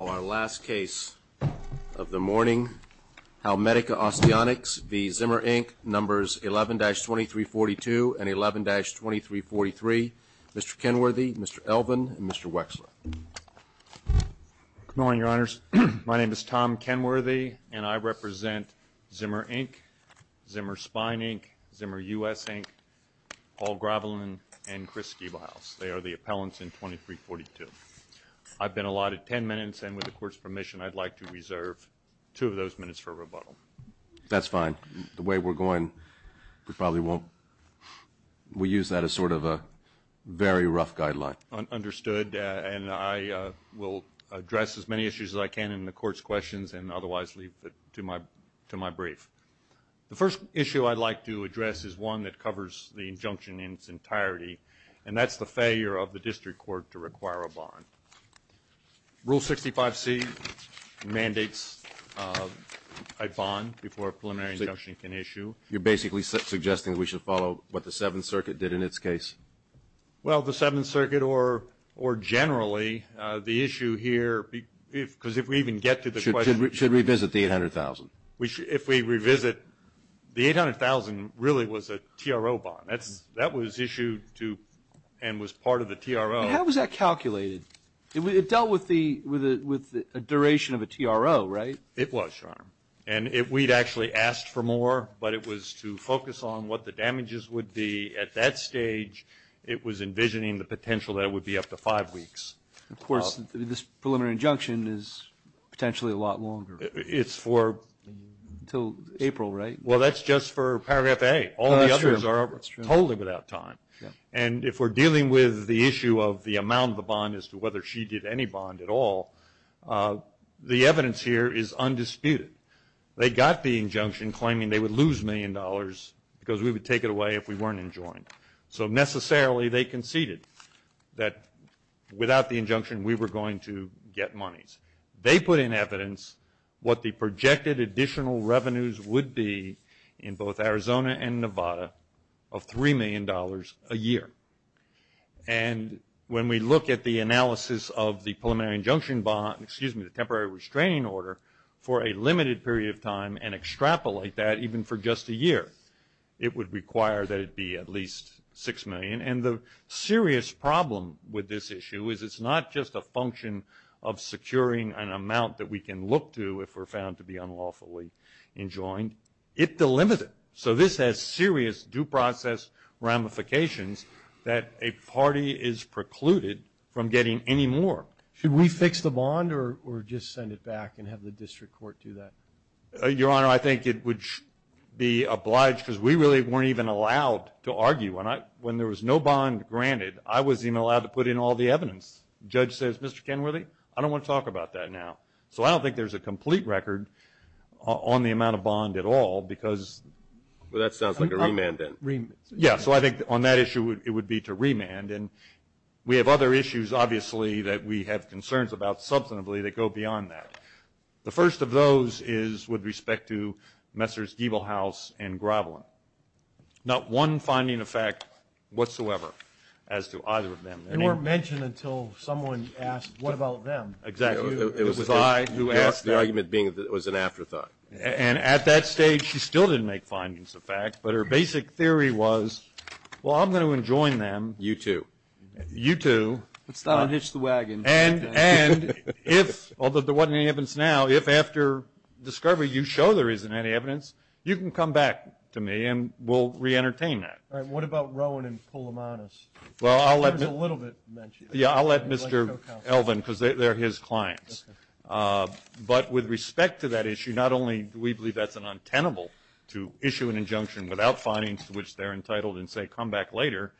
Our last case of the morning, Halmedica Osteonics v. Zimmer, Inc., numbers 11-2342 and 11-2343. Mr. Kenworthy, Mr. Elvin, and Mr. Wexler. Good morning, your honors. My name is Tom Kenworthy, and I represent Zimmer, Inc., Zimmer Spine, Inc., Zimmer U.S. Inc., Paul Gravelin, and Chris Giebelhaus. They are the appellants in 2342. I've been allotted 10 minutes, and with the court's permission, I'd like to reserve two of those minutes for rebuttal. That's fine. The way we're going, we probably won't. We use that as sort of a very rough guideline. Understood, and I will address as many issues as I can in the court's questions and otherwise leave to my brief. The first issue I'd like to address is one that covers the injunction in its entirety, and that's the failure of the district court to require a bond. Rule 65C mandates a bond before a preliminary injunction can issue. You're basically suggesting that we should follow what the Seventh Circuit did in its case? Well, the Seventh Circuit or generally, the issue here, because if we even get to the question... Should revisit the 800,000. If we revisit, the 800,000 really was a TRO bond. That was issued to and was part of the TRO. How was that calculated? It dealt with a duration of a TRO, right? It was, Your Honor, and we'd actually asked for more, but it was to focus on what the damages would be. At that stage, it was envisioning the potential that it would be up to five weeks. Of course, this preliminary injunction is potentially a lot longer. It's for... Until April, right? Well, that's just for Paragraph A. All the others are totally without time. And if we're dealing with the issue of the amount of the bond as to whether she did any bond at all, the evidence here is undisputed. They got the injunction claiming they would lose a million dollars because we would take it away if we weren't enjoined. So necessarily, they conceded that without the injunction, we were going to get monies. They put in evidence what the projected additional revenues would be in both Arizona and Nevada of three million dollars a year. And when we look at the analysis of the preliminary injunction bond, excuse me, the temporary restraining order for a limited period of time and extrapolate that even for just a year, it would require that it be at least six million. And the serious problem with this issue is it's not just a function of securing an amount that we can look to if we're found to be unlawfully enjoined. It delimited. So this has serious due process ramifications that a party is precluded from getting any more. Should we fix the bond or just send it back and have the district court do that? Your Honor, I think it would be obliged because we really weren't even allowed to argue. When there was no bond granted, I was even allowed to put in all the evidence. Judge says, Mr. Kenworthy, I don't want to talk about that now. So I don't think there's a complete record on the amount of bond at all because... Well, that sounds like a remand then. Yeah, so I think on that issue, it would be to remand. And we have other issues, obviously, that we have concerns about substantively that go beyond that. The first of those is with respect to Messrs. Diebelhaus and Gravelin. Not one finding of fact whatsoever as to either of them. They weren't mentioned until someone asked, what about them? Exactly. It was I who asked that. The argument being that it was an afterthought. And at that stage, she still didn't make findings of fact, but her basic theory was, well, I'm going to enjoin them. You too. You too. Let's not unhitch the wagon. And if, although there wasn't any evidence now, if after discovery you show there isn't any evidence, you can come back to me and we'll re-entertain that. All right. What about Rowan and Poulomanis? Well, I'll let... There's a little bit mentioned. Yeah, I'll let Mr. Elvin, because they're his clients. But with respect to that issue, not only do we believe that's an untenable to issue an injunction without findings to which they're entitled and say, come back later.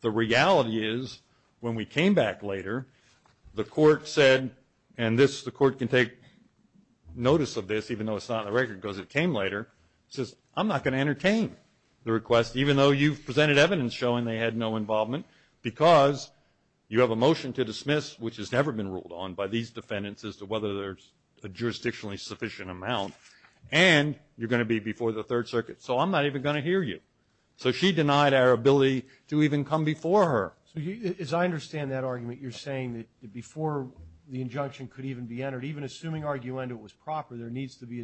The reality is when we came back later, the court said, and this, the court can take notice of this, even though it's not on the record, because it came later, says, I'm not going to entertain the request, even though you've presented evidence showing they had no involvement, because you have a motion to dismiss, which has never been ruled on by these defendants as to whether there's a jurisdictionally sufficient amount, and you're going to be before the Third Circuit. So I'm not even going to hear you. So she denied our ability to even come before her. So as I understand that argument, you're saying that before the injunction could even be a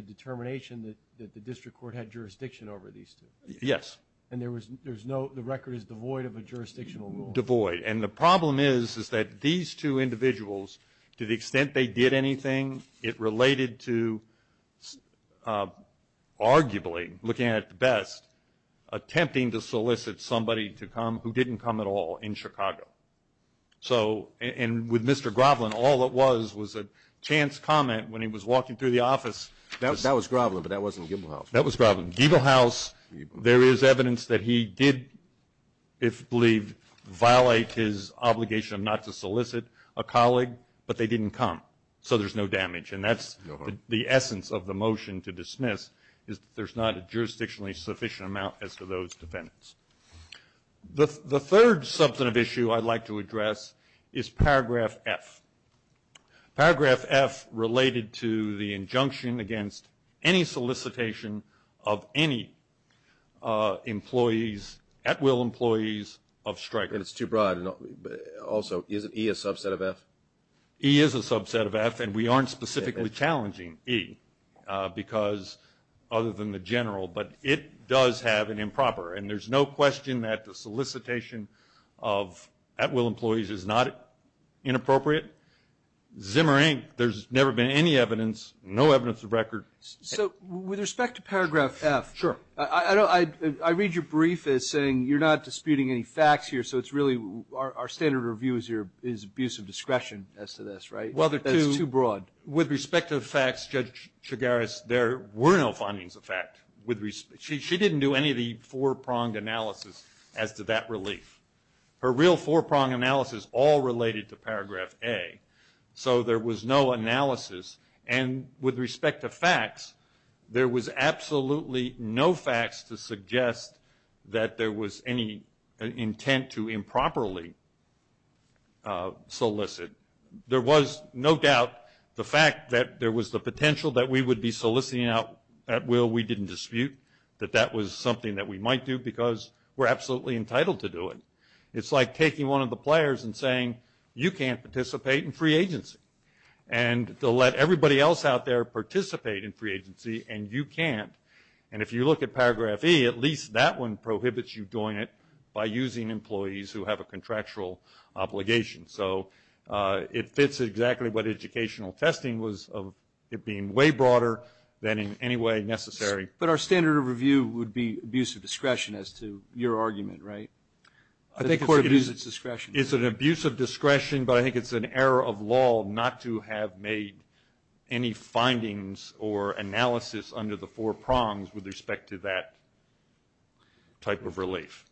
determination that the district court had jurisdiction over these two? Yes. And there was no, the record is devoid of a jurisdictional rule? Devoid. And the problem is, is that these two individuals, to the extent they did anything, it related to arguably, looking at it at best, attempting to solicit somebody to come who didn't come at all in Chicago. So, and with Mr. Groveland, all it was was a chance comment when he was walking through the office. That was Groveland, but that wasn't Giebelhaus. That was Groveland. Giebelhaus, there is evidence that he did, if believed, violate his obligation not to solicit a colleague, but they didn't come. So there's no damage. And that's the essence of the motion to dismiss, is that there's not a jurisdictionally sufficient amount as to those defendants. The third substantive issue I'd like to address is paragraph F. Paragraph F related to the injunction against any solicitation of any employees, at-will employees, of Stryker. And it's too broad. Also, isn't E a subset of F? E is a subset of F, and we aren't specifically challenging E, because, other than the general, but it does have an improper. And there's no question that the solicitation of at-will employees is not inappropriate. Zim or ink, there's never been any evidence, no evidence of record. So with respect to paragraph F, I read your brief as saying you're not disputing any facts here, so it's really, our standard review is abuse of discretion as to this, right? Well, there are two. That's too broad. With respect to the facts, Judge Chigaris, there were no findings of fact. She didn't do any of the four-pronged analysis as to that relief. Her real four-pronged analysis all related to paragraph A, so there was no analysis. And with respect to facts, there was absolutely no facts to suggest that there was any intent to improperly solicit. There was no doubt the fact that there was the potential that we would be soliciting out at-will. We didn't dispute that that was something that we might do, because we're absolutely entitled to do it. It's like taking one of the players and saying, you can't participate in free agency. And they'll let everybody else out there participate in free agency, and you can't. And if you look at paragraph E, at least that one prohibits you doing it by using employees who have a contractual obligation. So it fits exactly what educational testing was of it being way broader than in any way necessary. But our standard of review would be abuse of discretion as to your argument, right? I think it's an abuse of discretion, but I think it's an error of law not to have made any findings or analysis under the four prongs with respect to that type of relief.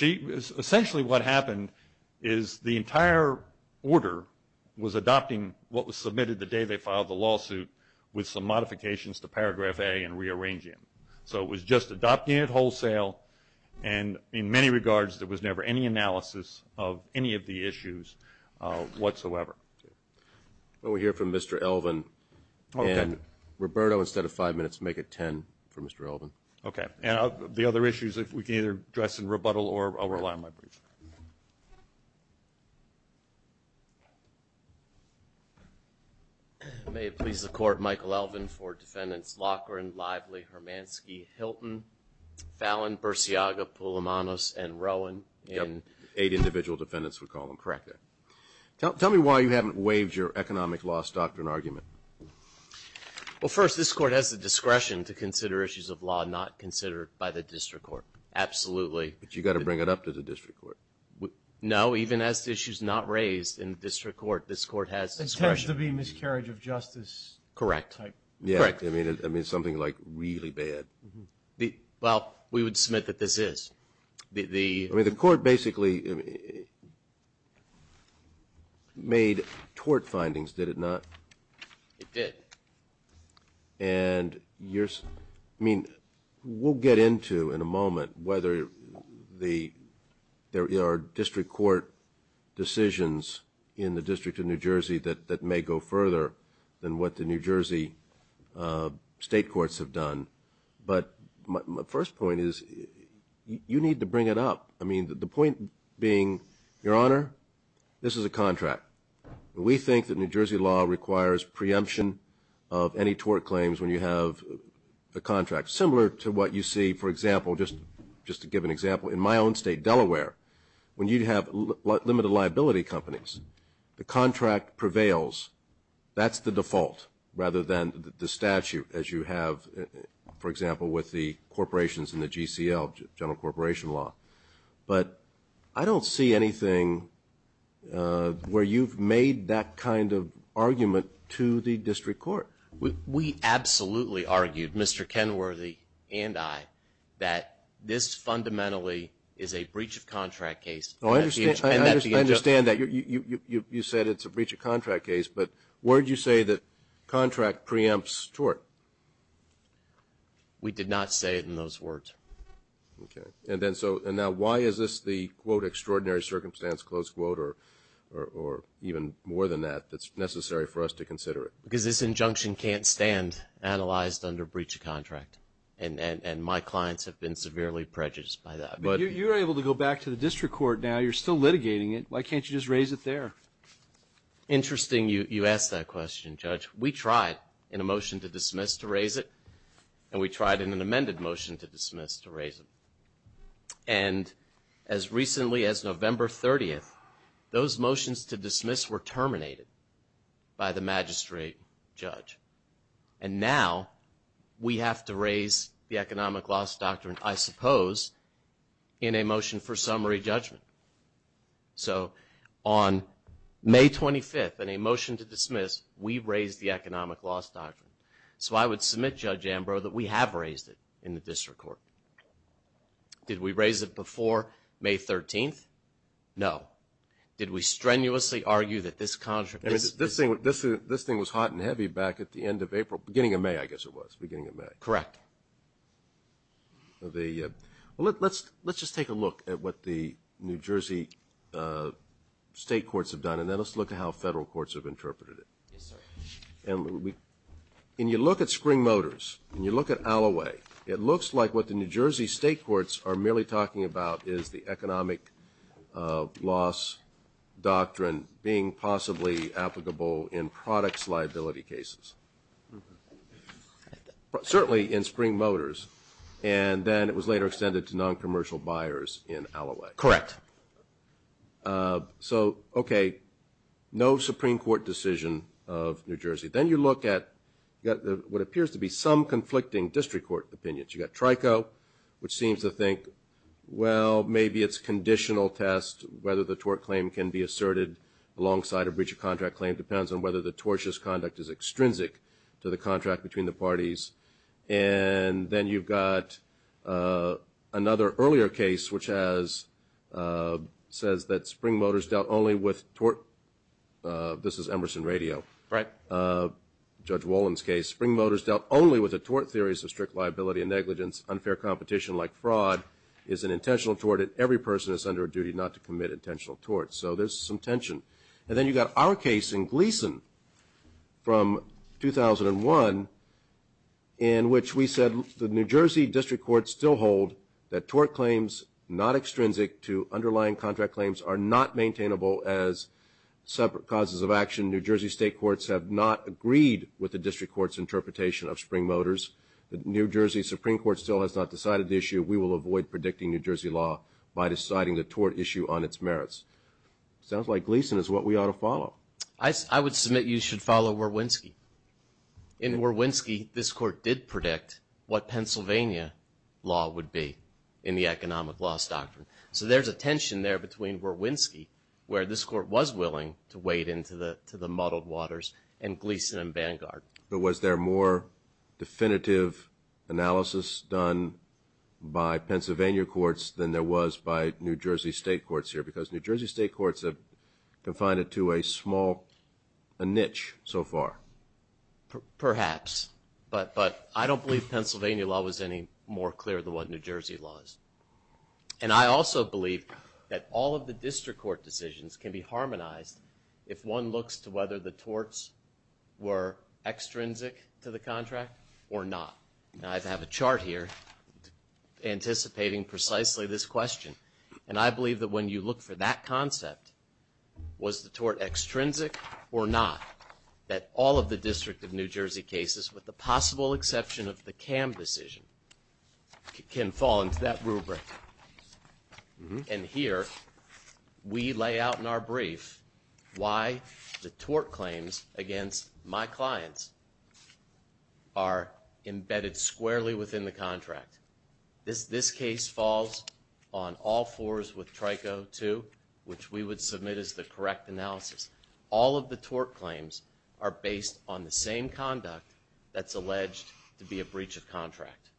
Essentially, what happened is the entire order was adopting what was submitted the day they filed the lawsuit with some modifications to paragraph A and rearranging them. So it was just adopting it wholesale, and in many regards, there was never any analysis of any of the issues whatsoever. Well, we hear from Mr. Elvin, and Roberto, instead of five minutes, make it 10 for Mr. Elvin. Okay. And the other issues, we can either address in rebuttal, or I'll rely on my brief. May it please the Court, Michael Elvin for defendants Loughran, Lively, Hermansky, Hilton, Fallon, Bursiaga, Poulomanos, and Rowan. Yep. Eight individual defendants, we call them. Correct there. Tell me why you haven't waived your economic loss doctrine argument. Well, first, this Court has the discretion to consider issues of law not considered by the district court. Absolutely. But you've got to bring it up to the district court. No, even as the issue's not raised in the district court, this Court has discretion. It's supposed to be miscarriage of justice type. Correct. Yeah, I mean, something like really bad. Well, we would submit that this is. I mean, the Court basically made tort findings, did it not? It did. And you're, I mean, we'll get into in a moment whether the, there are district court decisions in the District of New Jersey that may go further than what the New Jersey state courts have done. But my first point is, you need to bring it up. I mean, the point being, Your Honor, this is a contract. We think that New Jersey law requires preemption of any tort claims when you have a contract. Similar to what you see, for example, just to give an example, in my own state, Delaware, when you have limited liability companies, the contract prevails. That's the default rather than the statute as you have, for example, with the corporations in the GCL, general corporation law. But I don't see anything where you've made that kind of argument to the district court. We absolutely argued, Mr. Kenworthy and I, that this fundamentally is a breach of contract case. Oh, I understand that. You said it's a breach of contract case. But where did you say that contract preempts tort? We did not say it in those words. Okay. And then so, and now why is this the, quote, extraordinary circumstance, close quote, or even more than that, that's necessary for us to consider it? Because this injunction can't stand analyzed under breach of contract. And my clients have been severely prejudiced by that. But you're able to go back to the district court now. You're still litigating it. Why can't you just raise it there? Interesting you ask that question, Judge. We tried in a motion to dismiss to raise it. And we tried in an amended motion to dismiss to raise it. And as recently as November 30th, those motions to dismiss were terminated by the magistrate judge. And now we have to raise the economic loss doctrine, I suppose, in a motion for summary judgment. So on May 25th, in a motion to dismiss, we raised the economic loss doctrine. So I would submit, Judge Ambrose, that we have raised it in the district court. Did we raise it before May 13th? No. Did we strenuously argue that this contra- I mean, this thing was hot and heavy back at the end of April, beginning of May, I guess it was, beginning of May. Correct. The, well, let's just take a look at what the New Jersey state courts have done. And then let's look at how federal courts have interpreted it. Yes, sir. And when we, when you look at Spring Motors, when you look at Alloway, it looks like what the New Jersey state courts are merely talking about is the economic loss doctrine being possibly applicable in products liability cases. Certainly in Spring Motors. And then it was later extended to non-commercial buyers in Alloway. Correct. So, okay, no Supreme Court decision of New Jersey. Then you look at what appears to be some conflicting district court opinions. You've got Trico, which seems to think, well, maybe it's conditional test whether the tort claim can be asserted alongside a breach of contract claim depends on whether the tortious conduct is extrinsic to the contract between the parties. And then you've got another earlier case, which has, says that Spring Motors dealt only with tort. This is Emerson Radio. Right. Judge Wollen's case. Spring Motors dealt only with the tort theories of strict liability and negligence. Unfair competition, like fraud, is an intentional tort, and every person is under a duty not to commit intentional torts. So there's some tension. And then you've got our case in Gleason from 2001, in which we said the New Jersey district courts still hold that tort claims not extrinsic to underlying contract claims are not maintainable as separate causes of action. New Jersey state courts have not agreed with the district court's interpretation of Spring Motors. The New Jersey Supreme Court still has not decided the issue. We will avoid predicting New Jersey law by deciding the tort issue on its merits. Sounds like Gleason is what we ought to follow. I would submit you should follow Warwinski. In Warwinski, this court did predict what Pennsylvania law would be in the economic loss doctrine. So there's a tension there between Warwinski, where this court was willing to wade into the muddled waters, and Gleason and Vanguard. But was there more definitive analysis done by Pennsylvania courts than there was by New Jersey state courts that confine it to a small niche so far? Perhaps. But I don't believe Pennsylvania law was any more clear than what New Jersey law is. And I also believe that all of the district court decisions can be harmonized if one looks to whether the torts were extrinsic to the contract or not. And I have a chart here anticipating precisely this question. And I believe that when you look for that concept, was the tort extrinsic or not, that all of the district of New Jersey cases, with the possible exception of the CAM decision, can fall into that rubric. And here we lay out in our brief why the tort claims against my clients are embedded squarely within the contract. This case falls on all fours with Trico, too, which we would submit as the correct analysis. All of the tort claims are based on the same conduct that's alleged to be a breach of contract.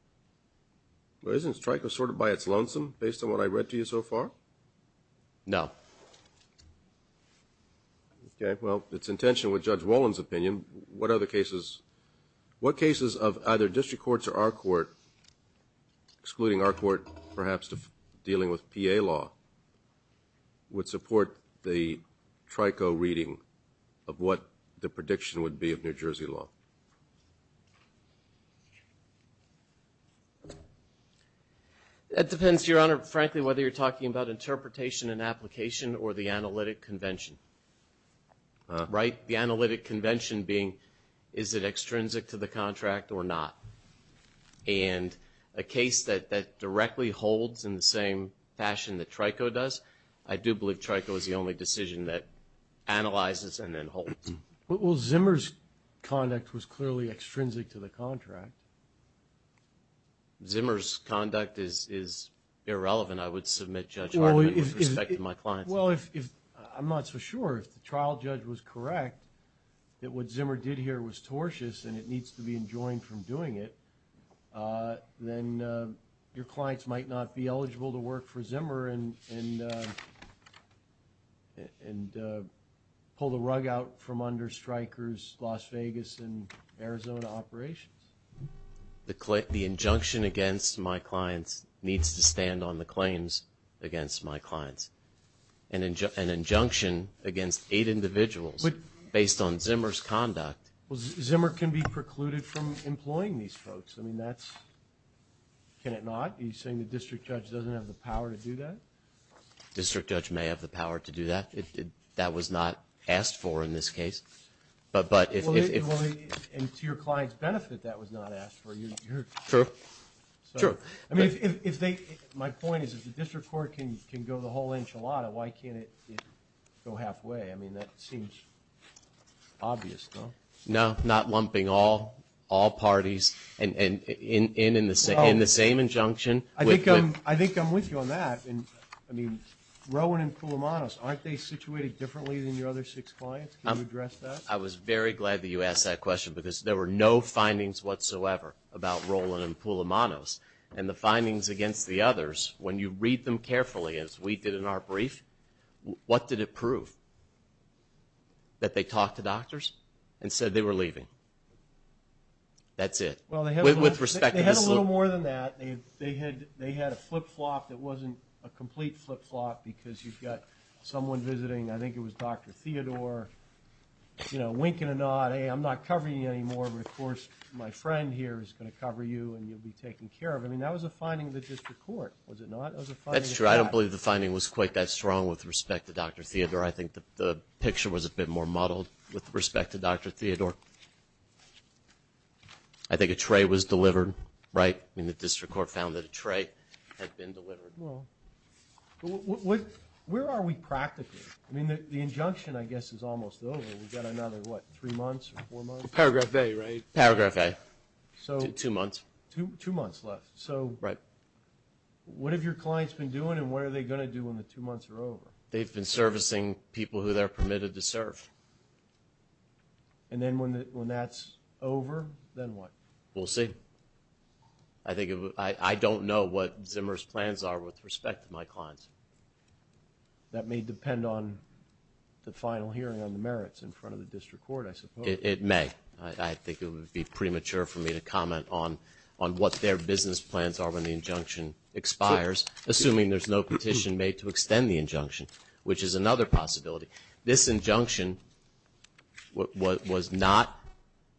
But isn't Trico sorted by its lonesome, based on what I read to you so far? No. Okay. Well, it's in tension with Judge Wolin's opinion. What other cases, what cases of either district courts or our court, excluding our court perhaps dealing with PA law, would support the Trico reading of what the prediction would be of New Jersey law? It depends, Your Honor, frankly, whether you're talking about interpretation and application or the analytic convention. Right? The analytic convention being, is it extrinsic to the contract or not? And a case that directly holds in the same fashion that Trico does, I do believe Trico is the only decision that analyzes and then holds. Well, Zimmer's conduct was clearly extrinsic to the contract. Zimmer's conduct is irrelevant, I would submit, Judge Hartman, with respect to my clients. Well, I'm not so sure, if the trial judge was correct, that what Zimmer did here was tortious and it needs to be enjoined from doing it, then your clients might not be eligible to work for Zimmer and pull the rug out from under Stryker's Las Vegas and Arizona operations. The injunction against my clients needs to stand on the claims against my clients. An injunction against eight individuals based on Zimmer's conduct. Well, Zimmer can be precluded from employing these folks. Can it not? Are you saying the district judge doesn't have the power to do that? District judge may have the power to do that. That was not asked for in this case. And to your client's benefit, that was not asked for. True, true. My point is, if the district court can go the whole enchilada, why can't it go halfway? I mean, that seems obvious, no? No, not lumping all parties in the same injunction. I think I'm with you on that. Rowan and Pulumanos, aren't they situated differently than your other six clients? Can you address that? I was very glad that you asked that question because there were no findings whatsoever about Rowan and Pulumanos. And the findings against the others, when you read them carefully as we did in our brief, what did it prove? That they talked to doctors and said they were leaving. That's it. Well, they had a little more than that. They had a flip-flop that wasn't a complete flip-flop because you've got someone visiting, I think it was Dr. Theodore, you know, winking a nod, hey, I'm not covering you anymore. Of course, my friend here is going to cover you and you'll be taken care of. I mean, that was a finding of the district court, was it not? That's true. I don't believe the finding was quite that strong with respect to Dr. Theodore. I think the picture was a bit more muddled with respect to Dr. Theodore. I think a tray was delivered, right? I mean, the district court found that a tray had been delivered. Well, where are we practically? I mean, the injunction, I guess, is almost over. We've got another, what, three months or four months? Paragraph A, right? Paragraph A, two months. Two months left. So, what have your clients been doing and what are they going to do when the two months are over? They've been servicing people who they're permitted to serve. And then when that's over, then what? We'll see. I think, I don't know what Zimmer's plans are with respect to my clients. That may depend on the final hearing on the merits in front of the district court, I suppose. It may. I think it would be premature for me to comment on what their business plans are when the injunction expires, assuming there's no petition made to extend the injunction, which is another possibility. This injunction was not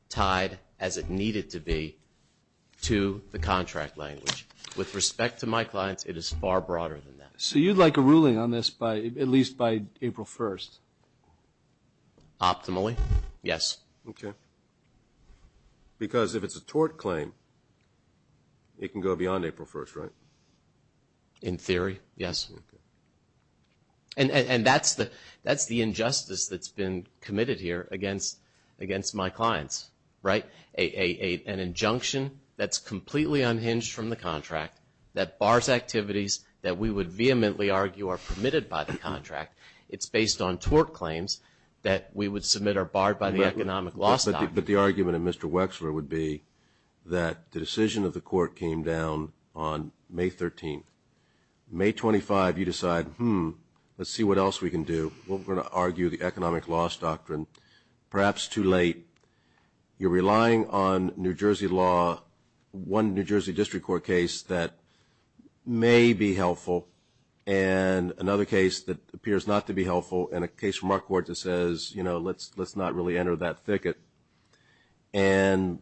tied as it needed to be to the contract language. With respect to my clients, it is far broader than that. So, you'd like a ruling on this by, at least by April 1st? Optimally, yes. Okay. Because if it's a tort claim, it can go beyond April 1st, right? In theory, yes. And that's the injustice that's been committed here against my clients, right? An injunction that's completely unhinged from the contract, that bars activities that we would vehemently argue are permitted by the contract. It's based on tort claims that we would submit are barred by the Economic Loss Doctrine. But the argument of Mr. Wexler would be that the decision of the court came down on May 13th. May 25th, you decide, hmm, let's see what else we can do. We're going to argue the Economic Loss Doctrine. Perhaps too late. You're relying on New Jersey law, one New Jersey district court case that may be helpful, and another case that appears not to be helpful, and a case from our court that says, you know, let's not really enter that thicket. And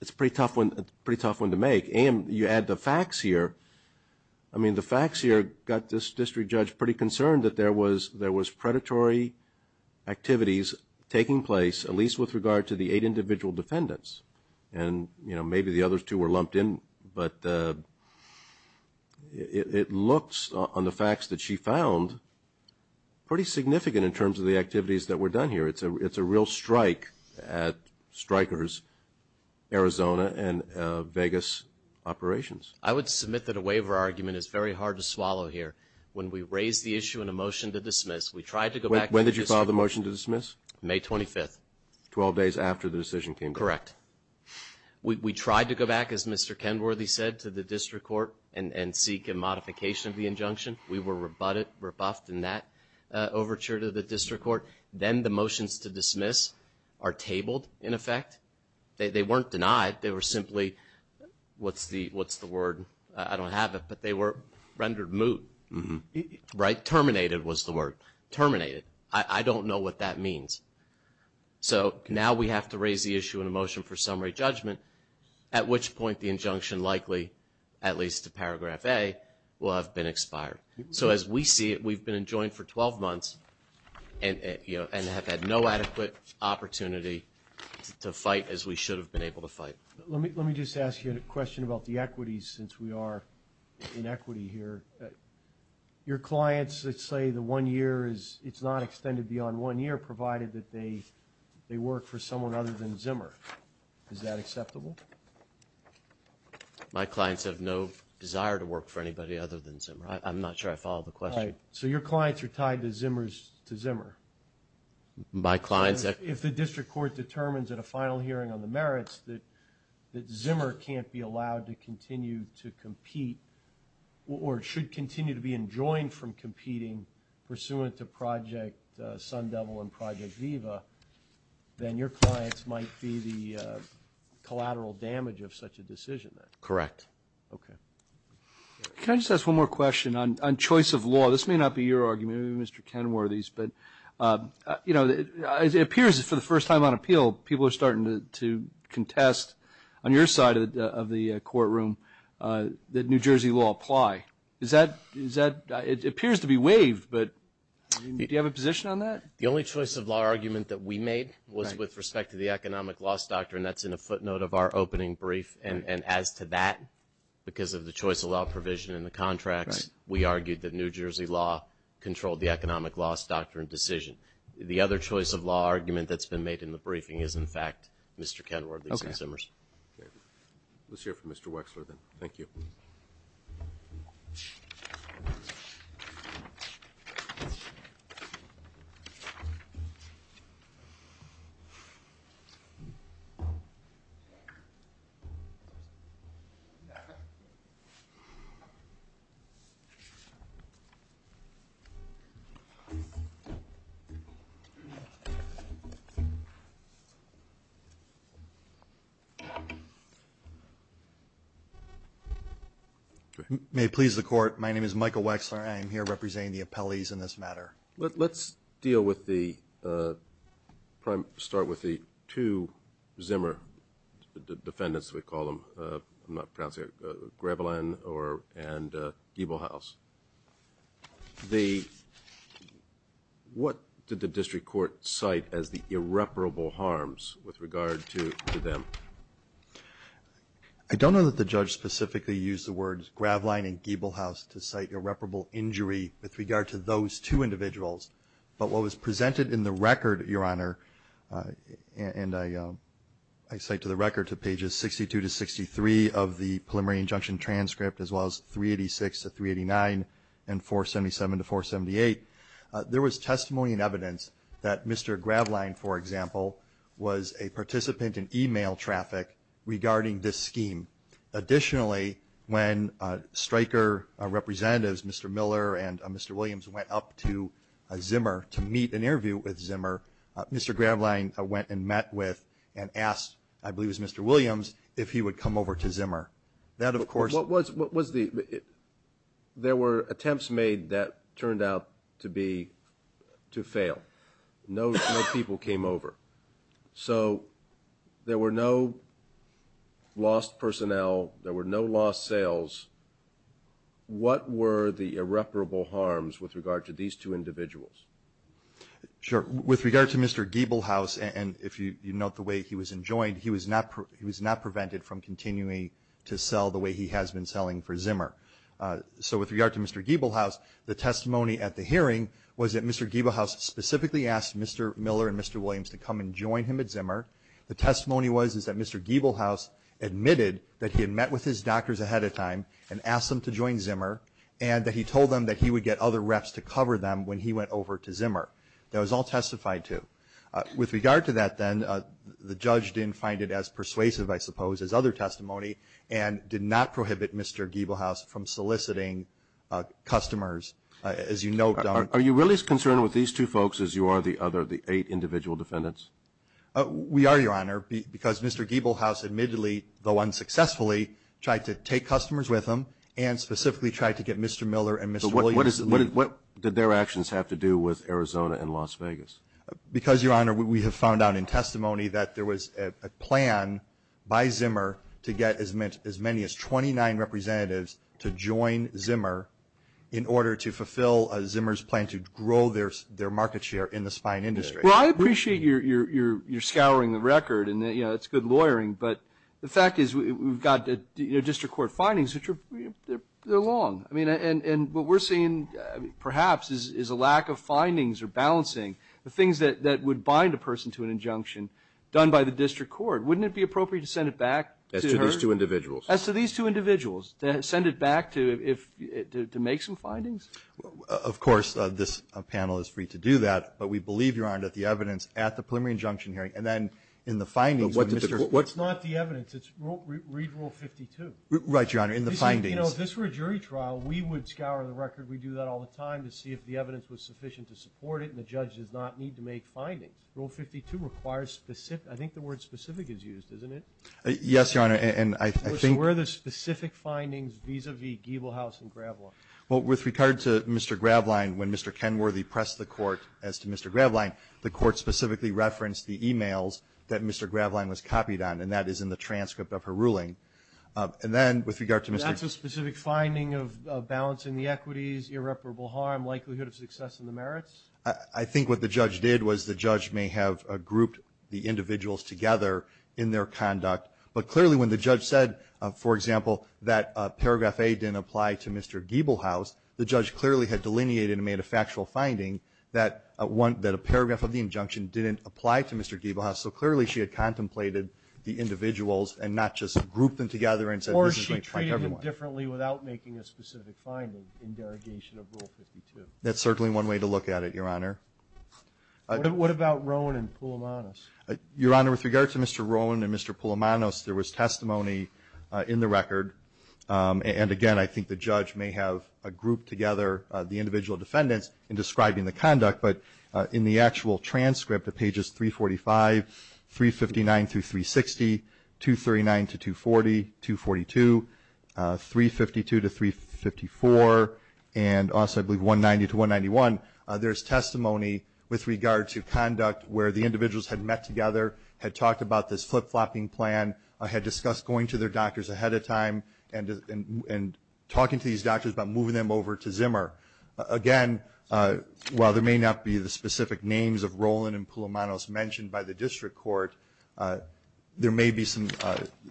it's a pretty tough one to make. And you add the facts here. I mean, the facts here got this district judge pretty concerned that there was predatory activities taking place, at least with regard to the eight individual defendants. And, you know, maybe the other two were lumped in. But it looks, on the facts that she found, pretty significant in terms of the activities that were done here. It's a real strike at strikers, Arizona and Vegas operations. I would submit that a waiver argument is very hard to swallow here. When we raised the issue in a motion to dismiss, we tried to go back. When did you file the motion to dismiss? May 25th. Twelve days after the decision came down. Correct. We tried to go back, as Mr. Kenworthy said, to the district court and seek a modification of the injunction. We were rebuffed in that overture to the district court. Then the motions to dismiss are tabled, in effect. They weren't denied. They were simply, what's the word? I don't have it, but they were rendered moot, right? Terminated was the word. Terminated. I don't know what that means. So now we have to raise the issue in a motion for summary judgment, at which point the injunction likely, at least to paragraph A, will have been expired. So as we see it, we've been enjoined for 12 months and have had no adequate opportunity to fight as we should have been able to fight. Let me just ask you a question about the equities, since we are in equity here. Your clients that say the one year is, it's not extended beyond one year, provided that they work for someone other than Zimmer. Is that acceptable? My clients have no desire to work for anybody other than Zimmer. I'm not sure I follow the question. All right. So your clients are tied to Zimmer's, to Zimmer. My clients... If the district court determines at a final hearing on the merits that Zimmer can't be allowed to continue to compete or should continue to be enjoined from competing pursuant to Project Sun Devil and Project Viva, then your clients might be the collateral damage of such a decision then? Correct. Okay. Can I just ask one more question on choice of law? This may not be your argument, maybe Mr. Kenworthy's, but it appears that for the first time on appeal, people are starting to contest on your side of the courtroom that New Jersey law apply. Is that... It appears to be waived, but do you have a position on that? The only choice of law argument that we made was with respect to the economic loss doctrine. That's in a footnote of our opening brief. And as to that, because of the choice of law provision in the contracts, we argued that New Jersey law controlled the economic loss doctrine decision. The other choice of law argument that's been made in the briefing is, in fact, Mr. Kenworthy's and Zimmer's. Let's hear from Mr. Wexler then. Thank you. My name is Michael Wexler. I am here representing the appellees in this matter. Let's deal with the... Start with the two Zimmer defendants, we call them. I'm not pronouncing it, Graveline and Giebelhaus. What did the district court cite as the irreparable harms with regard to them? I don't know that the judge specifically used the words Graveline and Giebelhaus to cite irreparable injury with regard to those two individuals. But what was presented in the record, Your Honor, and I cite to the record to pages 62 to 63 of the preliminary injunction transcript, as well as 386 to 389 and 477 to 478, there was testimony and evidence that Mr. Graveline, for example, was a participant in email traffic regarding this scheme. Additionally, when Stryker representatives, Mr. Miller and Mr. Williams, went up to Zimmer to meet and interview with Zimmer, Mr. Graveline went and met with and asked, I believe it was Mr. Williams, if he would come over to Zimmer. That, of course... What was the... There were attempts made that turned out to be... to fail. No people came over. So there were no lost personnel, there were no lost sales. What were the irreparable harms with regard to these two individuals? Sure. With regard to Mr. Giebelhaus, and if you note the way he was enjoined, he was not prevented from continuing to sell the way he has been selling for Zimmer. So with regard to Mr. Giebelhaus, the testimony at the hearing was that Mr. Giebelhaus specifically asked Mr. Miller and Mr. Williams to come and join him at Zimmer. The testimony was that Mr. Giebelhaus admitted that he had met with his doctors ahead of time and asked them to join Zimmer, and that he told them that he would get other reps to cover them when he went over to Zimmer. That was all testified to. With regard to that then, the judge didn't find it as persuasive, I suppose, as other testimony, and did not prohibit Mr. Giebelhaus from soliciting customers. As you note... Are you really as concerned with these two folks as you are the other, the eight individual defendants? We are, Your Honor, because Mr. Giebelhaus admittedly, though unsuccessfully, tried to take customers with him and specifically tried to get Mr. Miller and Mr. Williams to leave. But what did their actions have to do with Arizona and Las Vegas? Because, Your Honor, we have found out in testimony that there was a plan by Zimmer to get as many as 29 representatives to join Zimmer in order to fulfill Zimmer's plan to grow their market share in the spine industry. Well, I appreciate you're scouring the record, and it's good lawyering, but the fact is we've got the district court findings, which are long. I mean, and what we're seeing, perhaps, is a lack of findings or balancing the things that would bind a person to an injunction done by the district court. Wouldn't it be appropriate to send it back? As to these two individuals. As to these two individuals, to send it back to make some findings? Of course, this panel is free to do that, but we believe, Your Honor, that the evidence at the preliminary injunction hearing and then in the findings of Mr. But what's not the evidence? It's read Rule 52. Right, Your Honor, in the findings. You know, if this were a jury trial, we would scour the record. We do that all the time to see if the evidence was sufficient to support it, and the judge does not need to make findings. Rule 52 requires specific. I think the word specific is used, isn't it? Yes, Your Honor, and I think. So where are the specific findings vis-a-vis Giebelhaus and Graveline? Well, with regard to Mr. Graveline, when Mr. Kenworthy pressed the court as to Mr. Graveline, the court specifically referenced the e-mails that Mr. Graveline was copied on, and that is in the transcript of her ruling. And then with regard to Mr. That's a specific finding of balancing the equities, irreparable harm, likelihood of success in the merits? I think what the judge did was the judge may have grouped the individuals together in their conduct. But clearly, when the judge said, for example, that paragraph A didn't apply to Mr. Giebelhaus, the judge clearly had delineated and made a factual finding that a paragraph of the injunction didn't apply to Mr. Giebelhaus. So clearly, she had contemplated the individuals and not just grouped them together and said this is going to affect everyone. Or she treated him differently without making a specific finding in derogation of Rule 52. That's certainly one way to look at it, Your Honor. What about Roan and Poulomanis? Your Honor, with regard to Mr. Roan and Mr. Poulomanis, there was testimony in the record. And again, I think the judge may have grouped together the individual defendants in describing the conduct. But in the actual transcript of pages 345, 359-360, 239-240, 242, 352-354, and also I believe 190-191, there's testimony with regard to conduct where the individuals had met together, had talked about this flip-flopping plan, had discussed going to their doctors ahead of time, and talking to these doctors about moving them over to Zimmer. Again, while there may not be the specific names of Roan and Poulomanis mentioned by the district court, there may be some,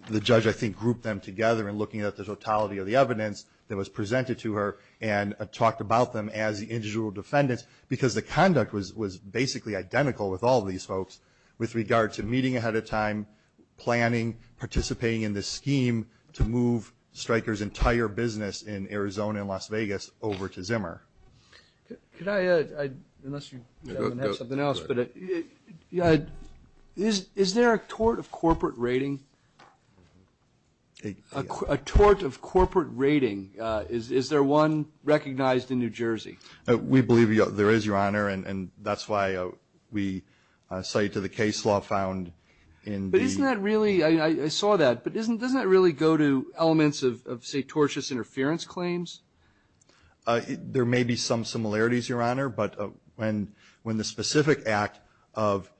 the judge I think grouped them together and looking at the totality of the evidence that was presented to her and talked about them as the individual defendants because the conduct was basically identical with all these folks with regard to meeting ahead of time, planning, participating in this scheme to move Stryker's entire business in Arizona and Las Vegas over to Zimmer. Could I add, unless you have something else, but is there a tort of corporate rating, a tort of corporate rating, is there one recognized in New Jersey? We believe there is, Your Honor, and that's why we cite to the case law found in the But isn't that really, I saw that, but doesn't that really go to elements of say tortious interference claims? There may be some similarities, Your Honor, but when the specific act of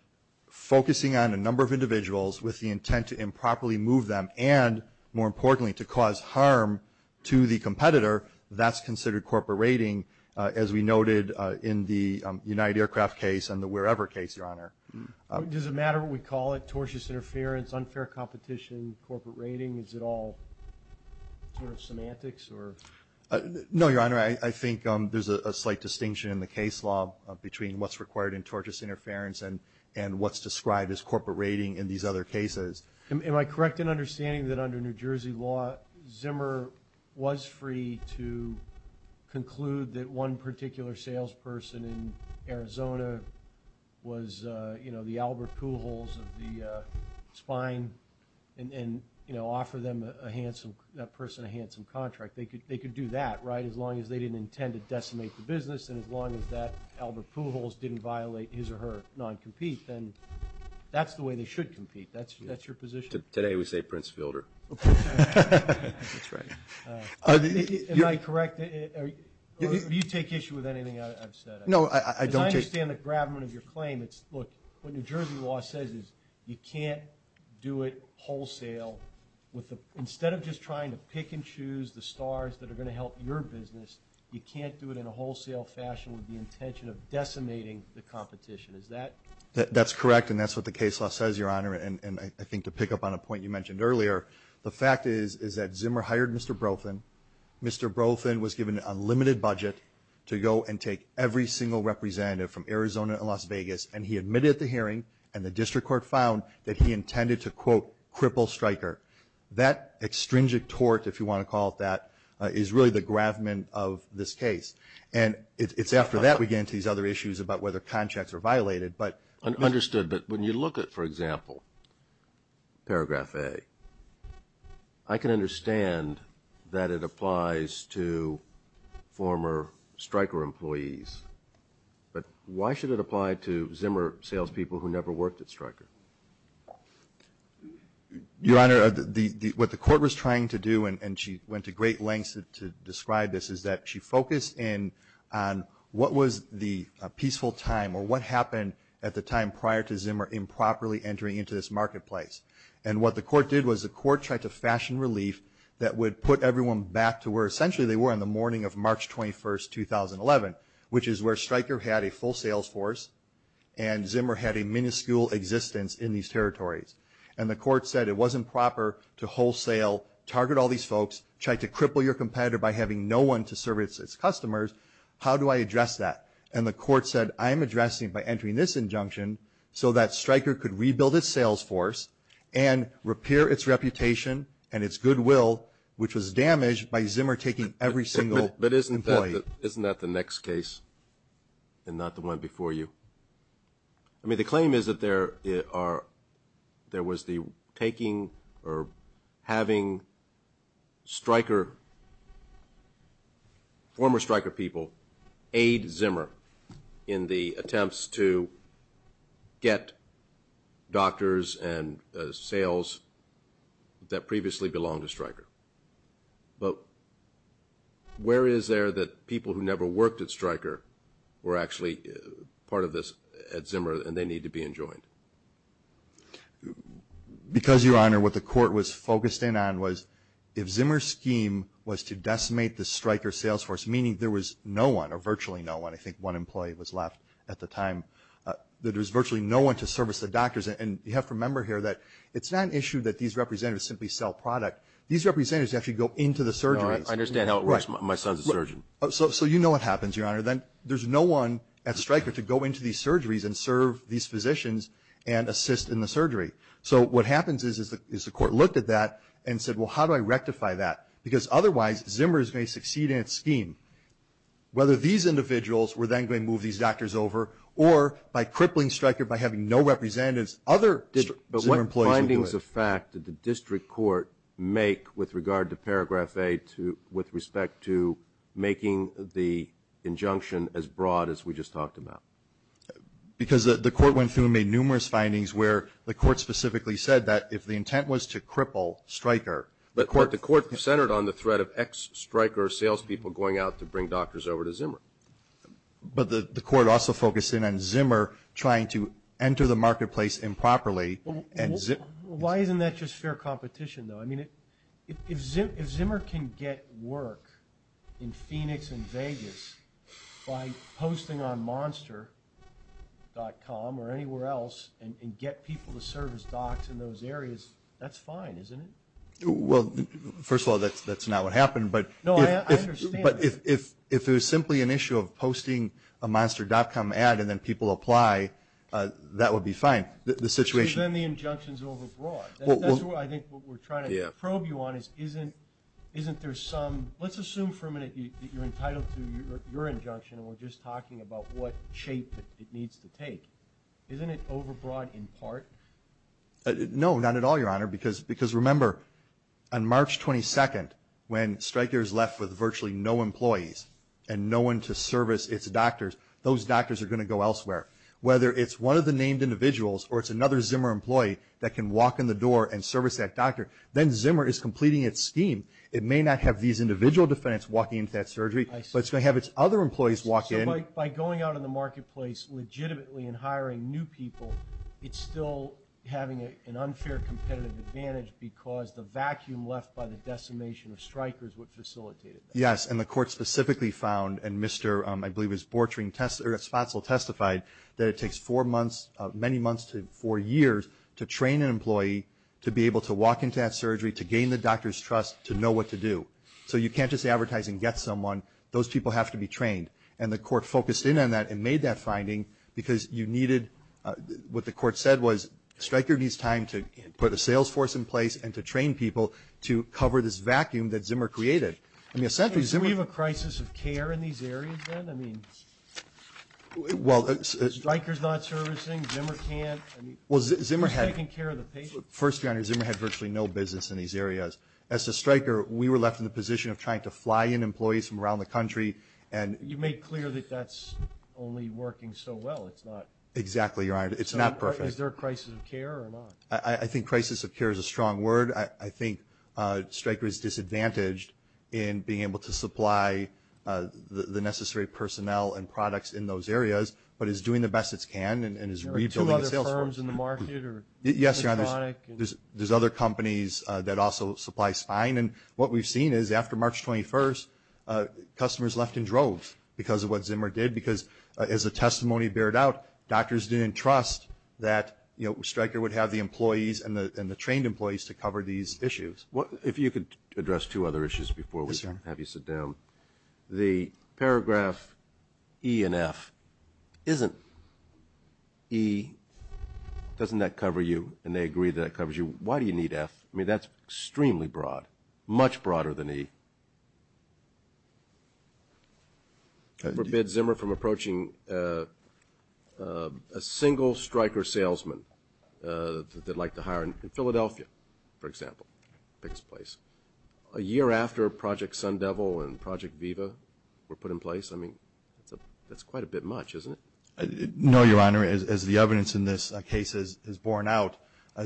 focusing on a number of individuals with the intent to improperly move them and, more as we noted in the United Aircraft case and the wherever case, Your Honor. Does it matter what we call it, tortious interference, unfair competition, corporate rating, is it all sort of semantics or? No, Your Honor, I think there's a slight distinction in the case law between what's required in tortious interference and what's described as corporate rating in these other cases. Am I correct in understanding that under New Jersey law, Zimmer was free to conclude that one particular salesperson in Arizona was, you know, the Albert Pujols of the Spine and, you know, offer them a handsome, that person a handsome contract. They could do that, right, as long as they didn't intend to decimate the business and as long as that Albert Pujols didn't violate his or her non-compete, then that's the way they should compete. That's your position? Today we say Prince Fielder. That's right. Am I correct, or do you take issue with anything I've said? No, I don't. Because I understand the gravamen of your claim. It's, look, what New Jersey law says is you can't do it wholesale with the, instead of just trying to pick and choose the stars that are going to help your business, you can't do it in a wholesale fashion with the intention of decimating the competition. Is that? That's correct and that's what the case law says, Your Honor, and I think to pick up on a point you mentioned earlier, the fact is, is that Zimmer hired Mr. Brofin. Mr. Brofin was given an unlimited budget to go and take every single representative from Arizona and Las Vegas and he admitted at the hearing and the district court found that he intended to, quote, cripple Stryker. That extringic tort, if you want to call it that, is really the gravamen of this case. And it's after that we get into these other issues about whether contracts are violated, but. Understood, but when you look at, for example, paragraph A, I can understand that it applies to former Stryker employees, but why should it apply to Zimmer salespeople who never worked at Stryker? Your Honor, what the court was trying to do, and she went to great lengths to describe this, is that she focused in on what was the peaceful time or what happened at the time prior to Zimmer improperly entering into this marketplace. And what the court did was the court tried to fashion relief that would put everyone back to where essentially they were on the morning of March 21st, 2011, which is where Stryker had a full sales force and Zimmer had a minuscule existence in these territories. And the court said it wasn't proper to wholesale, target all these folks, try to cripple your one to service its customers. How do I address that? And the court said, I'm addressing by entering this injunction so that Stryker could rebuild its sales force and repair its reputation and its goodwill, which was damaged by Zimmer taking every single employee. Isn't that the next case and not the one before you? The claim is that there was the taking or having Stryker, former Stryker people, aid Zimmer in the attempts to get doctors and sales that previously belonged to Stryker. But where is there that people who never worked at Stryker were actually part of this at Zimmer and they need to be enjoined? Because, Your Honor, what the court was focused in on was if Zimmer's scheme was to decimate the Stryker sales force, meaning there was no one or virtually no one, I think one employee was left at the time, that there was virtually no one to service the doctors. And you have to remember here that it's not an issue that these representatives simply sell product. These representatives actually go into the surgeries. No, I understand how it works. My son's a surgeon. So you know what happens, Your Honor. Then there's no one at Stryker to go into these surgeries and serve these physicians and assist in the surgery. So what happens is the court looked at that and said, well, how do I rectify that? Because otherwise, Zimmer is going to succeed in its scheme. Whether these individuals were then going to move these doctors over or by crippling Stryker by having no representatives, other Zimmer employees would do it. What impact does the fact that the district court make with regard to Paragraph A with respect to making the injunction as broad as we just talked about? Because the court went through and made numerous findings where the court specifically said that if the intent was to cripple Stryker. But the court centered on the threat of ex-Stryker salespeople going out to bring doctors over to Zimmer. But the court also focused in on Zimmer trying to enter the marketplace improperly. Why isn't that just fair competition, though? I mean, if Zimmer can get work in Phoenix and Vegas by posting on Monster.com or anywhere else and get people to serve as docs in those areas, that's fine, isn't it? Well, first of all, that's not what happened. But if it was simply an issue of posting a Monster.com ad and then people apply, that would be fine. The situation. Then the injunction's overbroad. I think what we're trying to probe you on is isn't there some... Let's assume for a minute that you're entitled to your injunction and we're just talking about what shape it needs to take. Isn't it overbroad in part? No, not at all, Your Honor. Because remember, on March 22nd, when Stryker is left with virtually no employees and no one to service its doctors, those doctors are going to go elsewhere. Whether it's one of the named individuals or it's another Zimmer employee that can walk in the door and service that doctor, then Zimmer is completing its scheme. It may not have these individual defendants walking into that surgery, but it's going to have its other employees walk in. By going out in the marketplace legitimately and hiring new people, it's still having an unfair competitive advantage because the vacuum left by the decimation of Stryker's would facilitate that. And the court specifically found, and Mr. Bortring Spatzel testified, that it takes four months, many months to four years, to train an employee to be able to walk into that surgery, to gain the doctor's trust, to know what to do. So you can't just advertise and get someone. Those people have to be trained. And the court focused in on that and made that finding because you needed... What the court said was Stryker needs time to put a sales force in place and to train people to cover this vacuum that Zimmer created. I mean, essentially, Zimmer... Do we have a crisis of care in these areas, then? I mean, Stryker's not servicing, Zimmer can't. I mean, who's taking care of the patients? First, Your Honor, Zimmer had virtually no business in these areas. As to Stryker, we were left in the position of trying to fly in employees from around the country and... You made clear that that's only working so well. It's not... Exactly, Your Honor. It's not perfect. Is there a crisis of care or not? I think crisis of care is a strong word. I think Stryker is disadvantaged in being able to supply the necessary personnel and products in those areas, but is doing the best it can and is rebuilding its sales force. Are there two other firms in the market or... Yes, Your Honor, there's other companies that also supply spine. And what we've seen is after March 21st, customers left in droves because of what Zimmer did because, as the testimony bared out, doctors didn't trust that Stryker would have the trained employees to cover these issues. If you could address two other issues before we have you sit down. Yes, Your Honor. The paragraph E and F, isn't E, doesn't that cover you? And they agree that it covers you. Why do you need F? I mean, that's extremely broad, much broader than E. Forbid Zimmer from approaching a single Stryker salesman that they'd like to hire. Philadelphia, for example, takes place a year after Project Sun Devil and Project Viva were put in place. I mean, that's quite a bit much, isn't it? No, Your Honor, as the evidence in this case is borne out,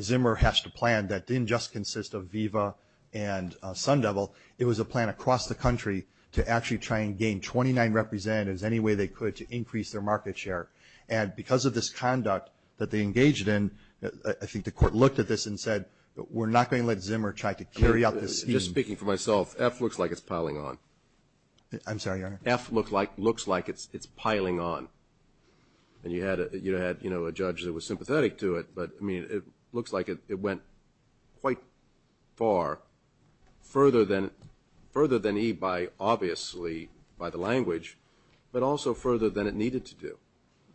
Zimmer hatched a plan that didn't just consist of Viva and Sun Devil. It was a plan across the country to actually try and gain 29 representatives any way they could to increase their market share. And because of this conduct that they engaged in, I think the court looked at this and said, we're not going to let Zimmer try to carry out this scheme. Just speaking for myself, F looks like it's piling on. I'm sorry, Your Honor. F looks like it's piling on. And you had a judge that was sympathetic to it, but I mean, it looks like it went quite far, further than E by obviously by the language, but also further than it needed to do.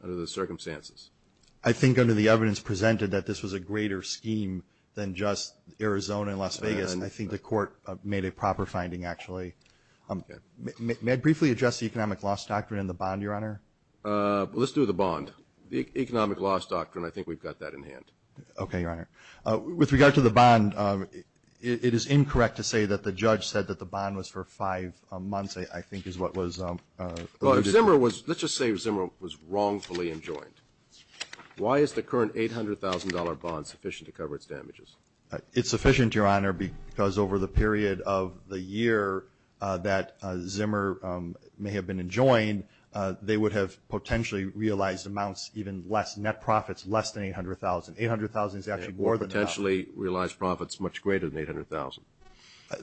Under the circumstances. I think under the evidence presented that this was a greater scheme than just Arizona and Las Vegas. I think the court made a proper finding, actually. May I briefly address the economic loss doctrine and the bond, Your Honor? Let's do the bond. The economic loss doctrine, I think we've got that in hand. Okay, Your Honor. With regard to the bond, it is incorrect to say that the judge said that the bond was for five months, I think is what was alluded to. Let's just say Zimmer was wrongfully enjoined. Why is the current $800,000 bond sufficient to cover its damages? It's sufficient, Your Honor, because over the period of the year that Zimmer may have been enjoined, they would have potentially realized amounts even less, net profits less than $800,000. $800,000 is actually more than that. Or potentially realized profits much greater than $800,000.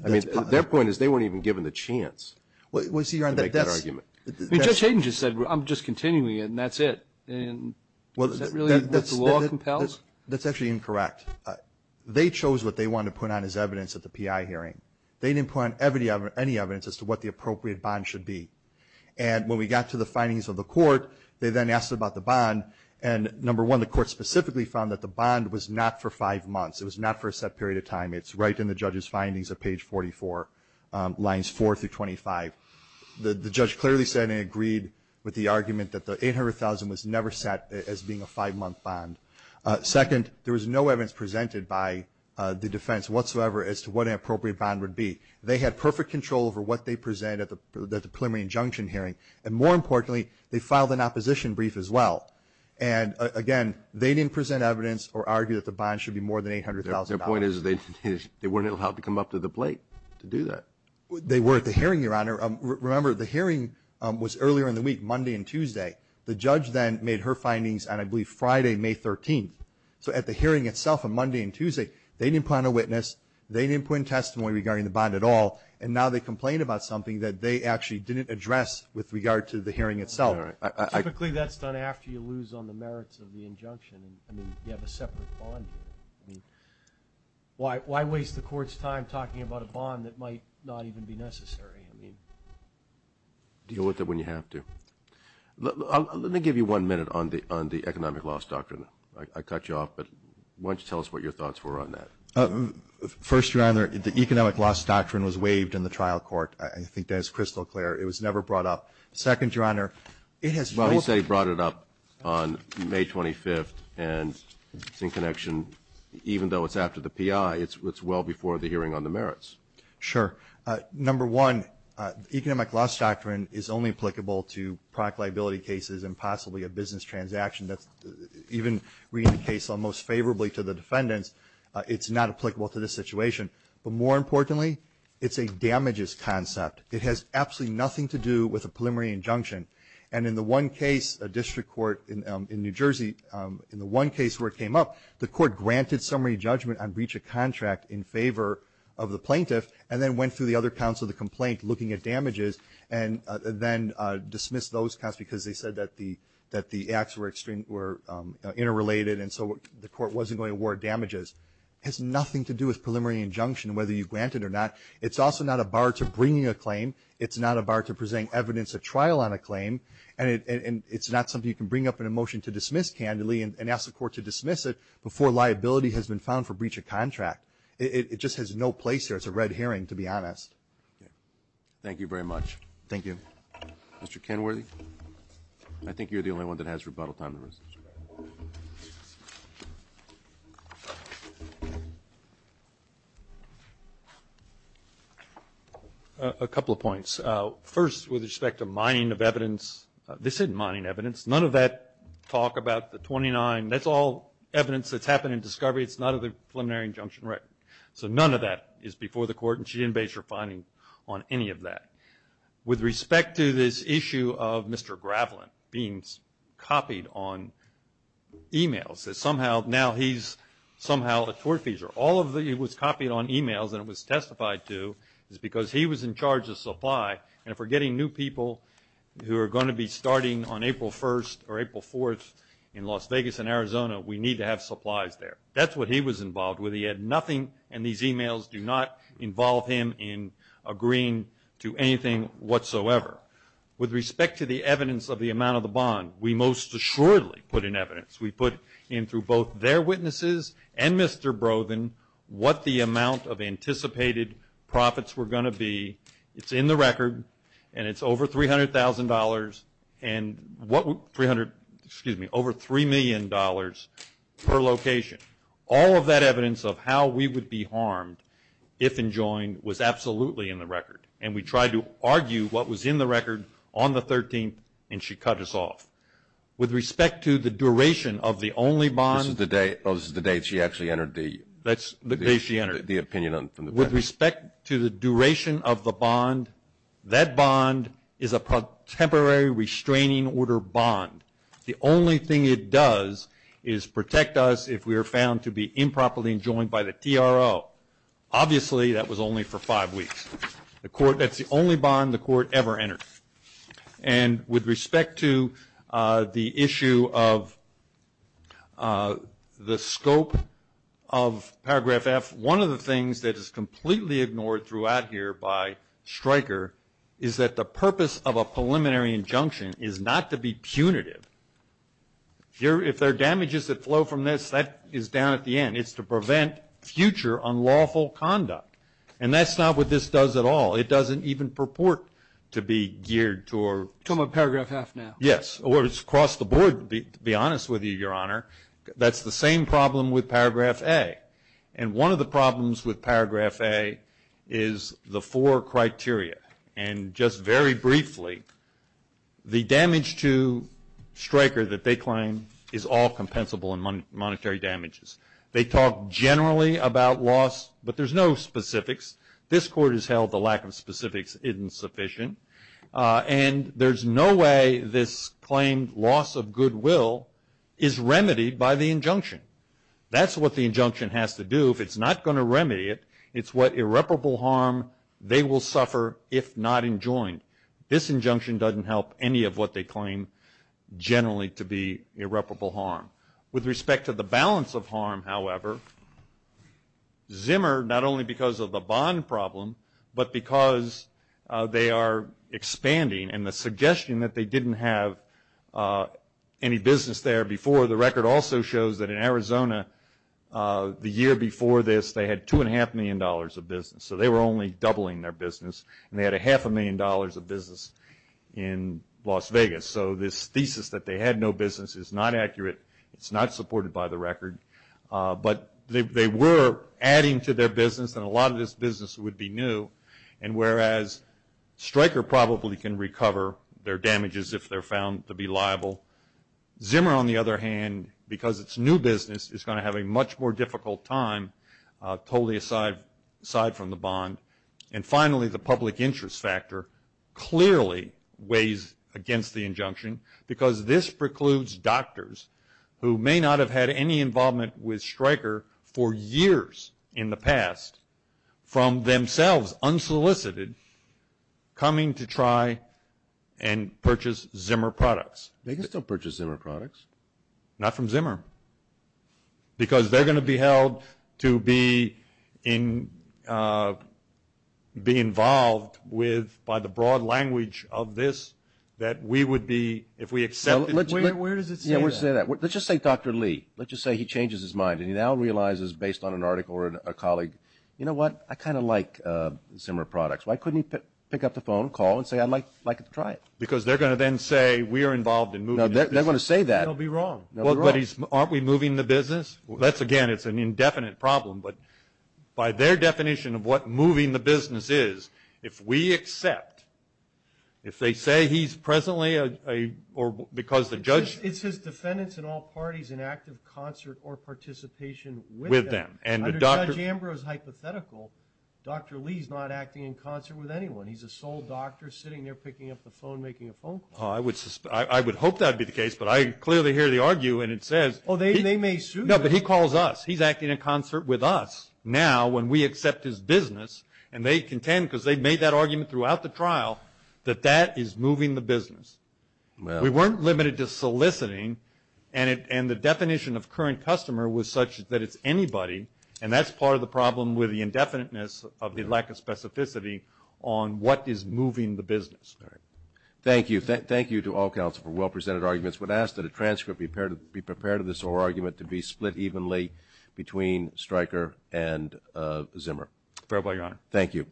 I mean, their point is they weren't even given the chance to make that argument. I mean, Judge Hayden just said, I'm just continuing it and that's it. And is that really what the law compels? That's actually incorrect. They chose what they wanted to put on as evidence at the PI hearing. They didn't put on any evidence as to what the appropriate bond should be. And when we got to the findings of the court, they then asked about the bond. And number one, the court specifically found that the bond was not for five months. It was not for a set period of time. It's right in the judge's findings at page 44, lines 4 through 25. The judge clearly said and agreed with the argument that the $800,000 was never set as being a five-month bond. Second, there was no evidence presented by the defense whatsoever as to what an appropriate bond would be. They had perfect control over what they presented at the preliminary injunction hearing. And more importantly, they filed an opposition brief as well. And again, they didn't present evidence or argue that the bond should be more than $800,000. Their point is they weren't allowed to come up to the plate to do that. They were at the hearing, Your Honor. Remember, the hearing was earlier in the week, Monday and Tuesday. The judge then made her findings on, I believe, Friday, May 13th. So at the hearing itself on Monday and Tuesday, they didn't put on a witness. They didn't put in testimony regarding the bond at all. And now they complain about something that they actually didn't address with regard to the hearing itself. Typically, that's done after you lose on the merits of the injunction. I mean, you have a separate bond here. I mean, why waste the court's time talking about a bond that might not even be necessary? I mean, deal with it when you have to. Let me give you one minute on the economic loss doctrine. I cut you off. But why don't you tell us what your thoughts were on that? First, Your Honor, the economic loss doctrine was waived in the trial court. I think that is crystal clear. It was never brought up. Second, Your Honor, it has... He said he brought it up on May 25th. And it's in connection, even though it's after the P.I., it's well before the hearing on the merits. Sure. Number one, economic loss doctrine is only applicable to product liability cases and possibly a business transaction. That's, even reading the case almost favorably to the defendants, it's not applicable to this situation. But more importantly, it's a damages concept. It has absolutely nothing to do with a preliminary injunction. And in the one case, a district court in New Jersey, in the one case where it came up, the court granted summary judgment on breach of contract in favor of the plaintiff and then went through the other counts of the complaint looking at damages and then dismissed those counts because they said that the acts were interrelated and so the court wasn't going to award damages. It has nothing to do with preliminary injunction, whether you grant it or not. It's also not a bar to bringing a claim. It's not a bar to presenting evidence at trial on a claim. And it's not something you can bring up in a motion to dismiss candidly and ask the court to dismiss it before liability has been found for breach of contract. It just has no place here. It's a red herring, to be honest. Thank you very much. Thank you. Mr. Kenworthy, I think you're the only one that has rebuttal time. A couple of points. First, with respect to mining of evidence, this isn't mining evidence. None of that talk about the 29, that's all evidence that's happened in discovery. It's not in the preliminary injunction record. So none of that is before the court and she didn't base her finding on any of that. With respect to this issue of Mr. Gravelin being copied on emails, now he's somehow a tortfeasor. All of it was copied on emails, and it was testified to, is because he was in charge of supply. And if we're getting new people who are going to be starting on April 1st or April 4th in Las Vegas and Arizona, we need to have supplies there. That's what he was involved with. And these emails do not involve him in agreeing to anything whatsoever. With respect to the evidence of the amount of the bond, we most assuredly put in evidence. We put in through both their witnesses and Mr. Brodin what the amount of anticipated profits were going to be. It's in the record, and it's over $300,000 and over $3 million per location. All of that evidence of how we would be harmed, if enjoined, was absolutely in the record. And we tried to argue what was in the record on the 13th, and she cut us off. With respect to the duration of the only bond... This is the day she actually entered the... That's the day she entered. The opinion on... With respect to the duration of the bond, that bond is a temporary restraining order bond. The only thing it does is protect us if we are found to be improperly enjoined by the TRO. Obviously, that was only for five weeks. That's the only bond the court ever entered. And with respect to the issue of the scope of paragraph F, one of the things that is completely ignored throughout here by Stryker is that the purpose of a preliminary injunction is not to be punitive. If there are damages that flow from this, that is down at the end. It's to prevent future unlawful conduct. And that's not what this does at all. It doesn't even purport to be geared toward... You're talking about paragraph F now. Yes, or it's across the board, to be honest with you, Your Honor. That's the same problem with paragraph A. And one of the problems with paragraph A is the four criteria. And just very briefly, the damage to Stryker that they claim is all compensable in monetary damages. They talk generally about loss, but there's no specifics. This court has held the lack of specifics isn't sufficient. And there's no way this claimed loss of goodwill is remedied by the injunction. That's what the injunction has to do. If it's not going to remedy it, it's what irreparable harm they will suffer if not enjoined. This injunction doesn't help any of what they claim generally to be irreparable harm. With respect to the balance of harm, however, Zimmer, not only because of the bond problem, but because they are expanding, and the suggestion that they didn't have any business there before. The record also shows that in Arizona, the year before this, they had $2.5 million of business. So they were only doubling their business. And they had a half a million dollars of business in Las Vegas. So this thesis that they had no business is not accurate. It's not supported by the record. But they were adding to their business, and a lot of this business would be new. And whereas Stryker probably can recover their damages if they're found to be liable. Zimmer, on the other hand, because it's new business, is going to have a much more difficult time totally aside from the bond. And finally, the public interest factor clearly weighs against the injunction. Because this precludes doctors, who may not have had any involvement with Stryker for years in the past, from themselves, unsolicited, coming to try and purchase Zimmer products. They can still purchase Zimmer products. Not from Zimmer. Because they're going to be held to be involved with, by the broad language of this, that we would be, if we accept it. Where does it say that? Let's just say Dr. Lee. Let's just say he changes his mind. And he now realizes, based on an article or a colleague, you know what, I kind of like Zimmer products. Why couldn't he pick up the phone, call, and say, I'd like to try it? Because they're going to then say, we are involved in moving this business. No, they're going to say that. They'll be wrong. Aren't we moving the business? That's, again, it's an indefinite problem. But by their definition of what moving the business is, if we accept, if they say he's presently a, or because the judge. It's his defendants in all parties in active concert or participation with them. Under Judge Ambrose's hypothetical, Dr. Lee's not acting in concert with anyone. He's a sole doctor sitting there, picking up the phone, making a phone call. I would hope that would be the case. But I clearly hear the argue. And it says. Oh, they may sue. No, but he calls us. He's acting in concert with us now when we accept his business. And they contend, because they've made that argument throughout the trial, that that is moving the business. We weren't limited to soliciting. And the definition of current customer was such that it's anybody. And that's part of the problem with the indefiniteness of the lack of specificity on what is moving the business. Thank you. Thank you to all counsel for well-presented arguments. Would ask that a transcript be prepared to this whole argument to be split evenly between Stryker and Zimmer. Fair play, your honor. Thank you.